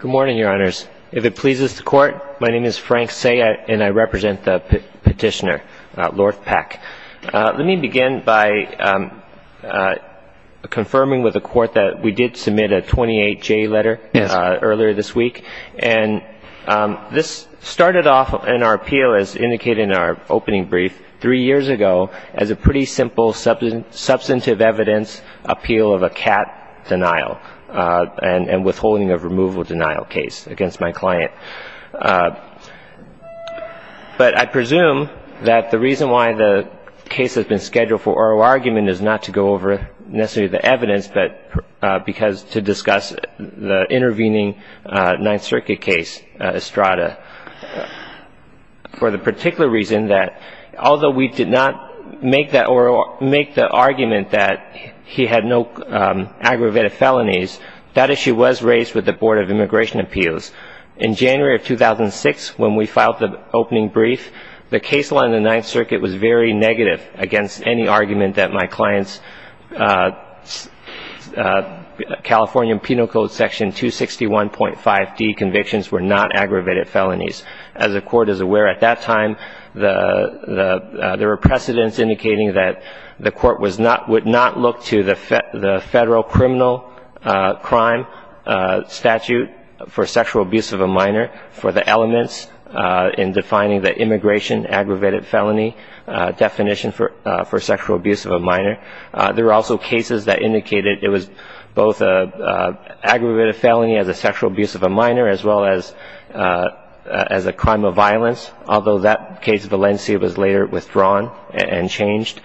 Good morning, Your Honors. If it pleases the Court, my name is Frank Sayet, and I represent the petitioner, Lord Peck. Let me begin by confirming with the Court that we did submit a 28-J letter earlier this week, and this started off in our appeal, as indicated in our opening brief, three years ago as a pretty simple substantive evidence appeal of a cat denial and withholding of removal denial case against my client. But I presume that the reason why the case has been scheduled for oral argument is not to go over necessarily the evidence, but because to discuss the intervening Ninth Circuit case, Estrada, for the particular reason that although we did not make the argument that he had no aggravated felonies, that issue was raised with the Board of Immigration Appeals. In January of 2006, when we filed the opening brief, the case law in the Ninth Circuit was very negative against any argument that my client's California Penal Code Section 261.5d convictions were not aggravated felonies. As the Court is aware, at that time, there were precedents indicating that the Court would not look to the federal criminal crime statute for sexual abuse of a minor for the elements in defining the immigration aggravated felony definition for sexual abuse of a minor. There were also cases that indicated it was both an aggravated felony as a sexual abuse of a minor as well as a crime of violence, although that case of Valencia was later withdrawn and changed.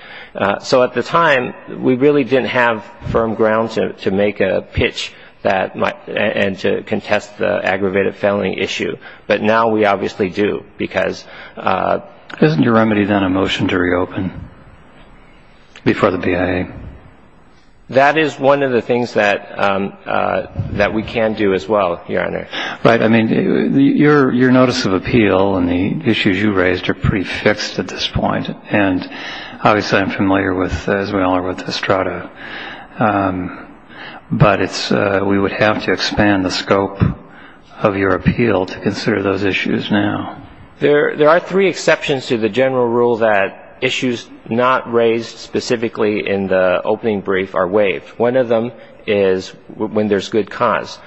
So at the time, we really didn't have firm ground to make a pitch and to contest the aggravated felony issue. But now we obviously do, because... Isn't your remedy then a motion to reopen before the BIA? That is one of the things that we can do as well, Your Honor. Right. I mean, your notice of appeal and the issues you raised are pretty fixed at this point. And obviously, I'm familiar, as we all are, with Estrada. But we would have to expand the scope of your appeal to consider those issues now. There are three exceptions to the general rule that issues not raised specifically in the opening brief are waived. One of them is when there's good cause.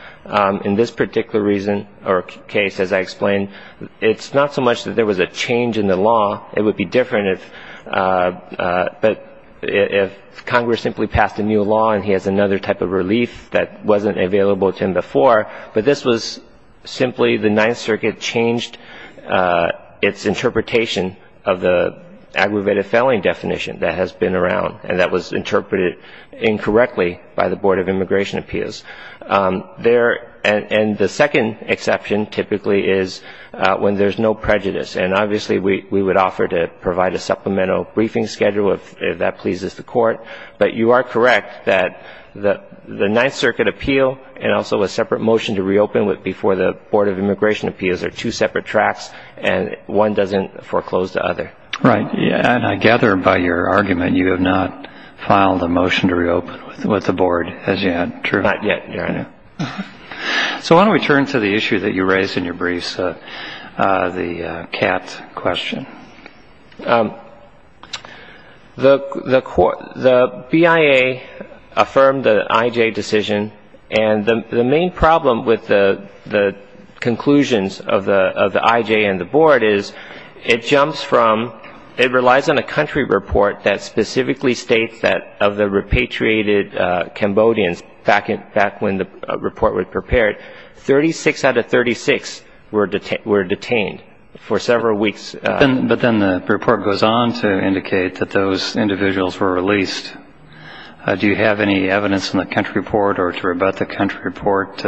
In this particular reason or case, as I explained, it's not so much that there was a change in the law. It would be different if Congress simply passed a new law and he has another type of relief that wasn't available to him before. But this was simply the Ninth Circuit changed its interpretation of the aggravated felony definition that has been around and that was interpreted incorrectly by the Board of Immigration Appeals. And the second exception typically is when there's no prejudice. And obviously, we would offer to provide a supplemental briefing schedule if that pleases the Court. But you are correct that the Ninth Circuit appeal and also a separate motion to reopen before the Board of Immigration Appeals close to other. Right. And I gather by your argument you have not filed a motion to reopen with the Board, as yet, true? Not yet, Your Honor. So why don't we turn to the issue that you raised in your briefs, the Katz question. The BIA affirmed the IJ decision. And the main problem with the conclusions of the IJ and the Board is it jumps from, it relies on a country report that specifically states that of the repatriated Cambodians back when the report was prepared, 36 out of 36 were detained for several weeks. But then the report goes on to indicate that those individuals were released. Do you have any evidence in the country report or to rebut the country report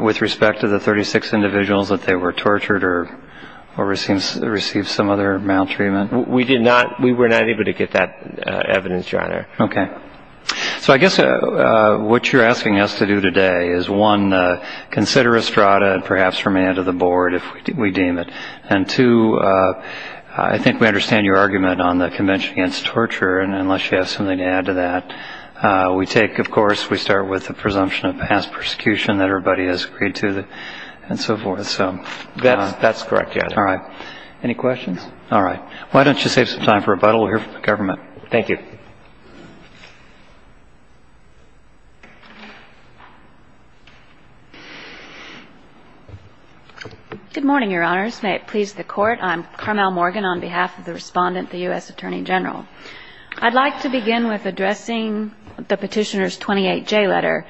with respect to the 36 individuals that they were tortured or received some other maltreatment? We did not. We were not able to get that evidence, Your Honor. Okay. So I guess what you're asking us to do today is, one, consider Estrada and perhaps remand to the Board if we deem it. And, two, I think we understand your argument on the Convention Against Torture. And unless you have something to add to that, we take, of course, we start with the presumption of past persecution that everybody has agreed to. And so forth. That's correct, Your Honor. All right. Any questions? All right. Why don't you save some time for rebuttal. We'll hear from the government. Thank you. Good morning, Your Honors. May it please the Court. I'm Carmel Morgan on behalf of the Respondent, the U.S. Attorney General. I'd like to begin with addressing the Petitioner's 28J letter.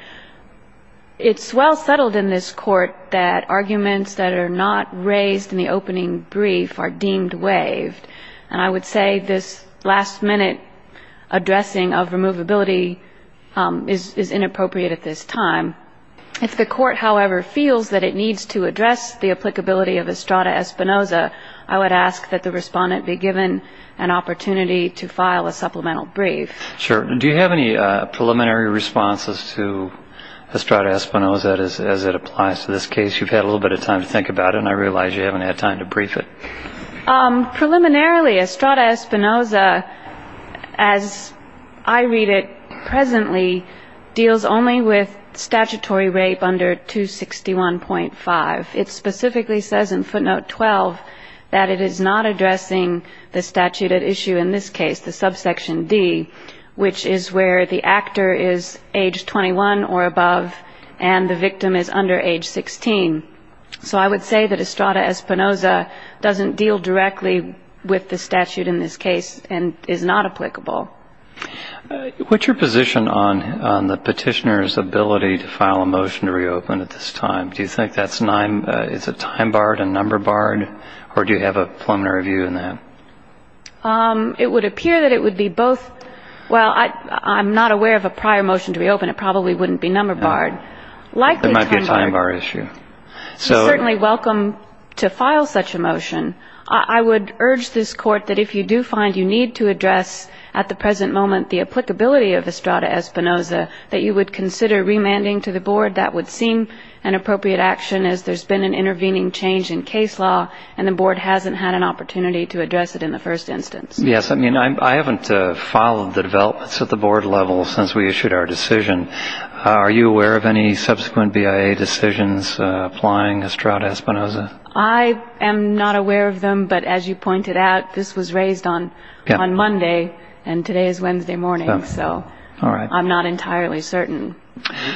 It's well settled in this court that arguments that are not raised in the opening brief are deemed waived. And I would say this last-minute addressing of removability is inappropriate at this time. If the Court, however, feels that it needs to address the applicability of Estrada Espinoza, I would ask that the Respondent be given an opportunity to file a supplemental brief. Sure. Do you have any preliminary responses to Estrada Espinoza as it applies to this case? You've had a little bit of time to think about it, and I realize you haven't had time to brief it. Preliminarily, Estrada Espinoza, as I read it presently, deals only with statutory rape under 261.5. It specifically says in footnote 12 that it is not addressing the statute at issue in this case, the subsection D, which is where the actor is age 21 or above and the victim is under age 16. So I would say that Estrada Espinoza doesn't deal directly with the statute in this case and is not applicable. What's your position on the Petitioner's ability to file a motion to reopen at this time? Do you think that's a time barred, a number barred, or do you have a preliminary view on that? It would appear that it would be both. Well, I'm not aware of a prior motion to reopen. It probably wouldn't be number barred. There might be a time bar issue. You're certainly welcome to file such a motion. I would urge this Court that if you do find you need to address at the present moment the applicability of Estrada Espinoza, that you would consider remanding to the Board. That would seem an appropriate action as there's been an intervening change in case law and the Board hasn't had an opportunity to address it in the first instance. Yes. I mean, I haven't filed the developments at the Board level since we issued our decision. Are you aware of any subsequent BIA decisions applying Estrada Espinoza? I am not aware of them, but as you pointed out, this was raised on Monday and today is Wednesday morning, so I'm not entirely certain.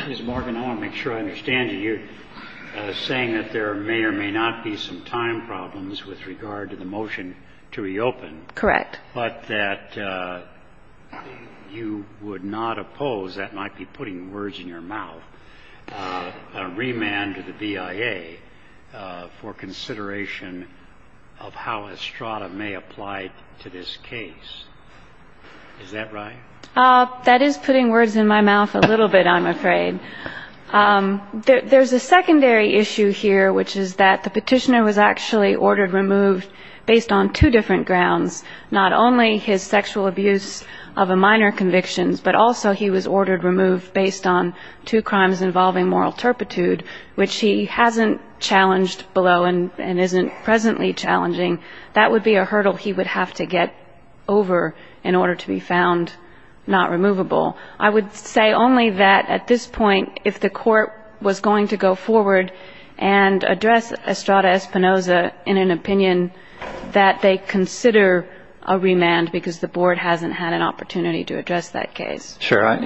Ms. Morgan, I want to make sure I understand you. You're saying that there may or may not be some time problems with regard to the motion to reopen. Correct. But that you would not oppose, that might be putting words in your mouth, a remand to the BIA for consideration of how Estrada may apply to this case. Is that right? That is putting words in my mouth a little bit, I'm afraid. There's a secondary issue here, which is that the Petitioner was actually ordered removed based on two different grounds, not only his sexual abuse of a minor conviction, but also he was ordered removed based on two crimes involving moral turpitude, which he hasn't challenged below and isn't presently challenging. That would be a hurdle he would have to get over in order to be found not removable. I would say only that at this point, if the Court was going to go forward and address Estrada Espinoza in an opinion that they consider a remand because the Board hasn't had an opportunity to address that case. Sure,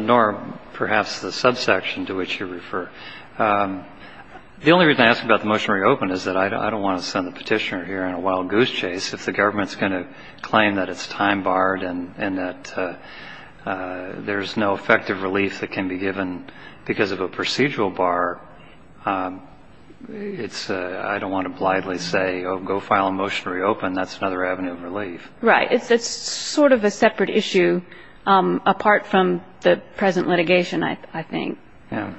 nor perhaps the subsection to which you refer. The only reason I ask about the motion to reopen is that I don't want to send the Petitioner here on a wild goose chase. If the government is going to claim that it's time barred and that there's no effective relief that can be given because of a procedural bar, I don't want to blithely say, oh, go file a motion to reopen, that's another avenue of relief. Right. It's sort of a separate issue apart from the present litigation, I think. Yeah.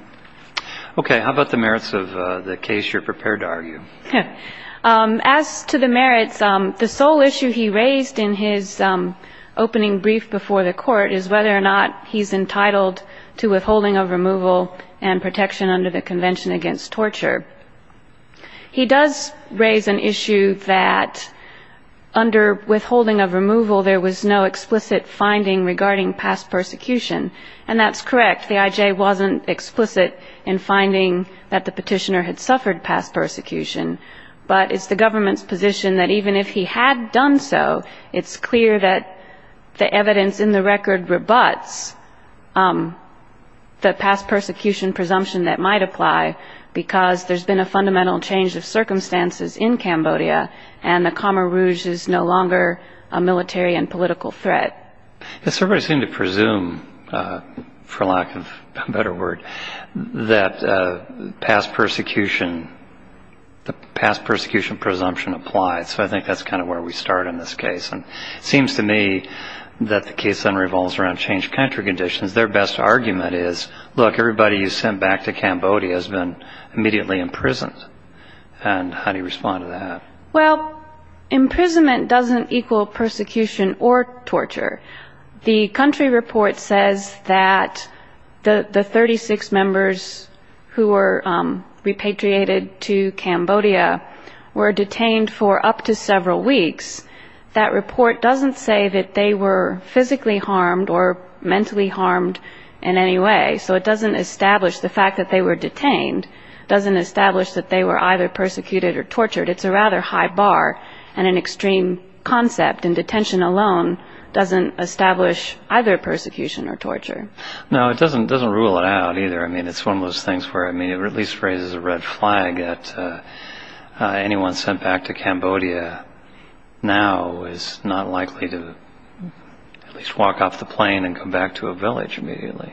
Okay, how about the merits of the case you're prepared to argue? As to the merits, the sole issue he raised in his opening brief before the Court is whether or not he's entitled to withholding of removal and protection under the Convention Against Torture. He does raise an issue that under withholding of removal there was no explicit finding regarding past persecution, and that's correct. The IJ wasn't explicit in finding that the Petitioner had suffered past persecution, but it's the government's position that even if he had done so, it's clear that the evidence in the record rebuts the past persecution presumption that might apply because there's been a fundamental change of circumstances in Cambodia and the Khmer Rouge is no longer a military and political threat. Yes, everybody seemed to presume, for lack of a better word, that past persecution, the past persecution presumption applied, so I think that's kind of where we start in this case. And it seems to me that the case then revolves around changed country conditions. Their best argument is, look, everybody you sent back to Cambodia has been immediately imprisoned, and how do you respond to that? Well, imprisonment doesn't equal persecution or torture. The country report says that the 36 members who were repatriated to Cambodia were detained for up to several weeks. That report doesn't say that they were physically harmed or mentally harmed in any way, so it doesn't establish the fact that they were detained doesn't establish that they were either persecuted or tortured. It's a rather high bar, and an extreme concept in detention alone doesn't establish either persecution or torture. No, it doesn't rule it out either. I mean, it's one of those things where it at least raises a red flag that anyone sent back to Cambodia now is not likely to at least walk off the plane and come back to a village immediately.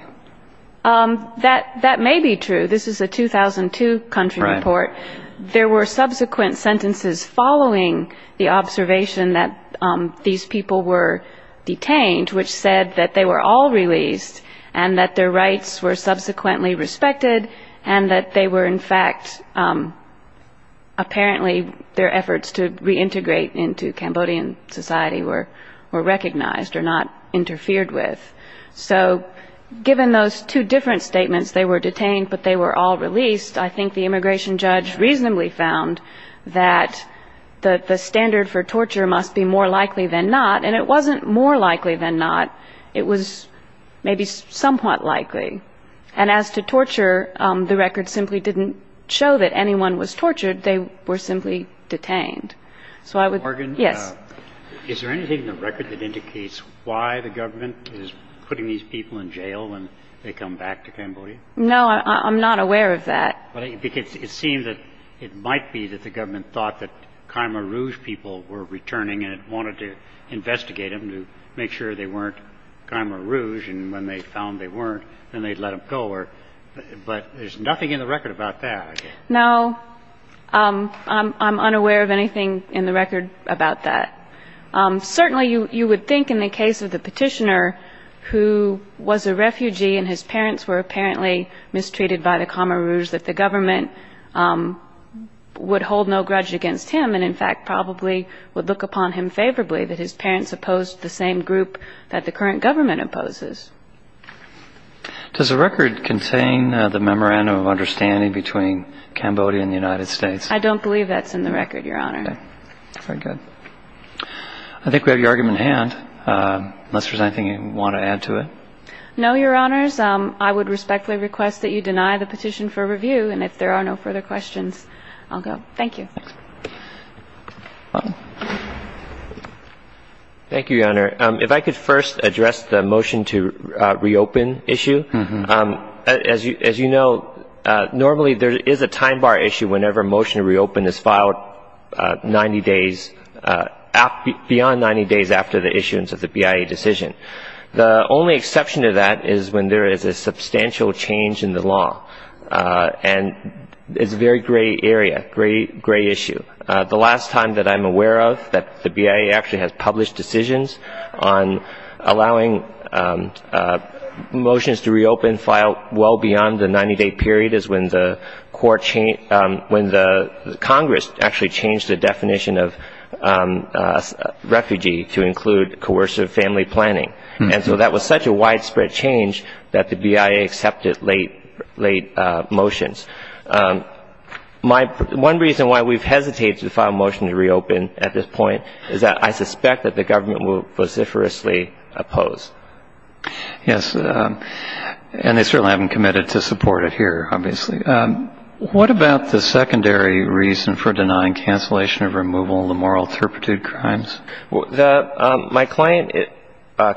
That may be true. This is a 2002 country report. There were subsequent sentences following the observation that these people were detained, which said that they were all released and that their rights were subsequently respected and that they were, in fact, apparently their efforts to reintegrate into Cambodian society were recognized or not interfered with. So given those two different statements, they were detained but they were all released, I think the immigration judge reasonably found that the standard for torture must be more likely than not, and it wasn't more likely than not. It was maybe somewhat likely. And as to torture, the record simply didn't show that anyone was tortured. They were simply detained. Yes? Is there anything in the record that indicates why the government is putting these people in jail when they come back to Cambodia? No, I'm not aware of that. Well, it seems that it might be that the government thought that Khmer Rouge people were returning and it wanted to investigate them to make sure they weren't Khmer Rouge, and when they found they weren't, then they'd let them go. But there's nothing in the record about that. No, I'm unaware of anything in the record about that. Certainly you would think in the case of the petitioner who was a refugee and his parents were apparently mistreated by the Khmer Rouge, that the government would hold no grudge against him and, in fact, probably would look upon him favorably, that his parents opposed the same group that the current government opposes. Does the record contain the memorandum of understanding between Cambodia and the United States? I don't believe that's in the record, Your Honor. Very good. I think we have your argument in hand, unless there's anything you want to add to it. No, Your Honors. I would respectfully request that you deny the petition for review, and if there are no further questions, I'll go. Thank you. Thank you, Your Honor. If I could first address the motion to reopen issue. As you know, normally there is a time bar issue whenever a motion to reopen is filed 90 days, beyond 90 days after the issuance of the BIA decision. The only exception to that is when there is a substantial change in the law, and it's a very gray area, gray issue. The last time that I'm aware of that the BIA actually has published decisions on allowing motions to reopen filed well beyond the 90-day period is when the Congress actually changed the definition of refugee to include coercive family planning, and so that was such a widespread change that the BIA accepted late motions. One reason why we've hesitated to file a motion to reopen at this point is that I suspect that the government will vociferously oppose. Yes, and they certainly haven't committed to support it here, obviously. What about the secondary reason for denying cancellation of removal, the moral turpitude crimes? My client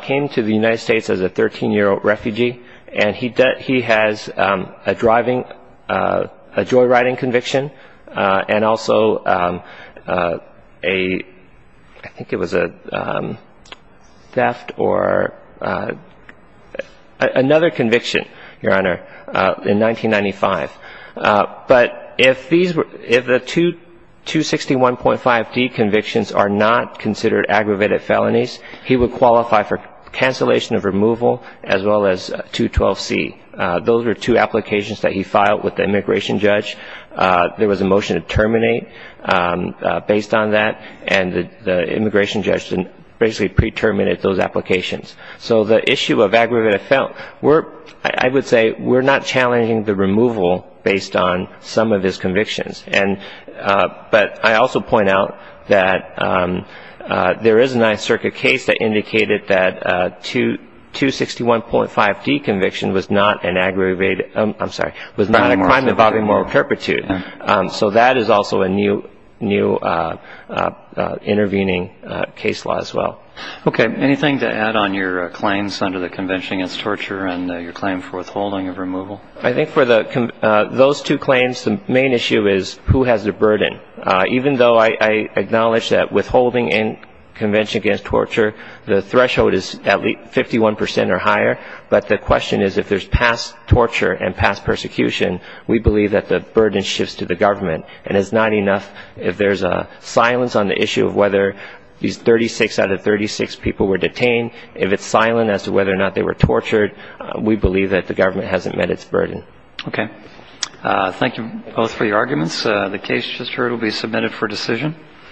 came to the United States as a 13-year-old refugee, and he has a driving, a joyriding conviction, and also I think it was a theft or another conviction, Your Honor, in 1995. But if the 261.5D convictions are not considered aggravated felonies, he would qualify for cancellation of removal as well as 212C. Those are two applications that he filed with the immigration judge. There was a motion to terminate based on that, and the immigration judge basically pre-terminated those applications. So the issue of aggravated felonies, I would say we're not challenging the removal based on some of his convictions. But I also point out that there is a Ninth Circuit case that indicated that 261.5D conviction was not an aggravated, I'm sorry, was not a crime involving moral turpitude. So that is also a new intervening case law as well. Okay, anything to add on your claims under the Convention Against Torture and your claim for withholding of removal? I think for those two claims, the main issue is who has the burden. Even though I acknowledge that withholding in Convention Against Torture, the threshold is at least 51 percent or higher, but the question is if there's past torture and past persecution, we believe that the burden shifts to the government. And it's not enough if there's a silence on the issue of whether these 36 out of 36 people were detained. If it's silent as to whether or not they were tortured, we believe that the government hasn't met its burden. Okay. Thank you both for your arguments. The case just heard will be submitted for decision.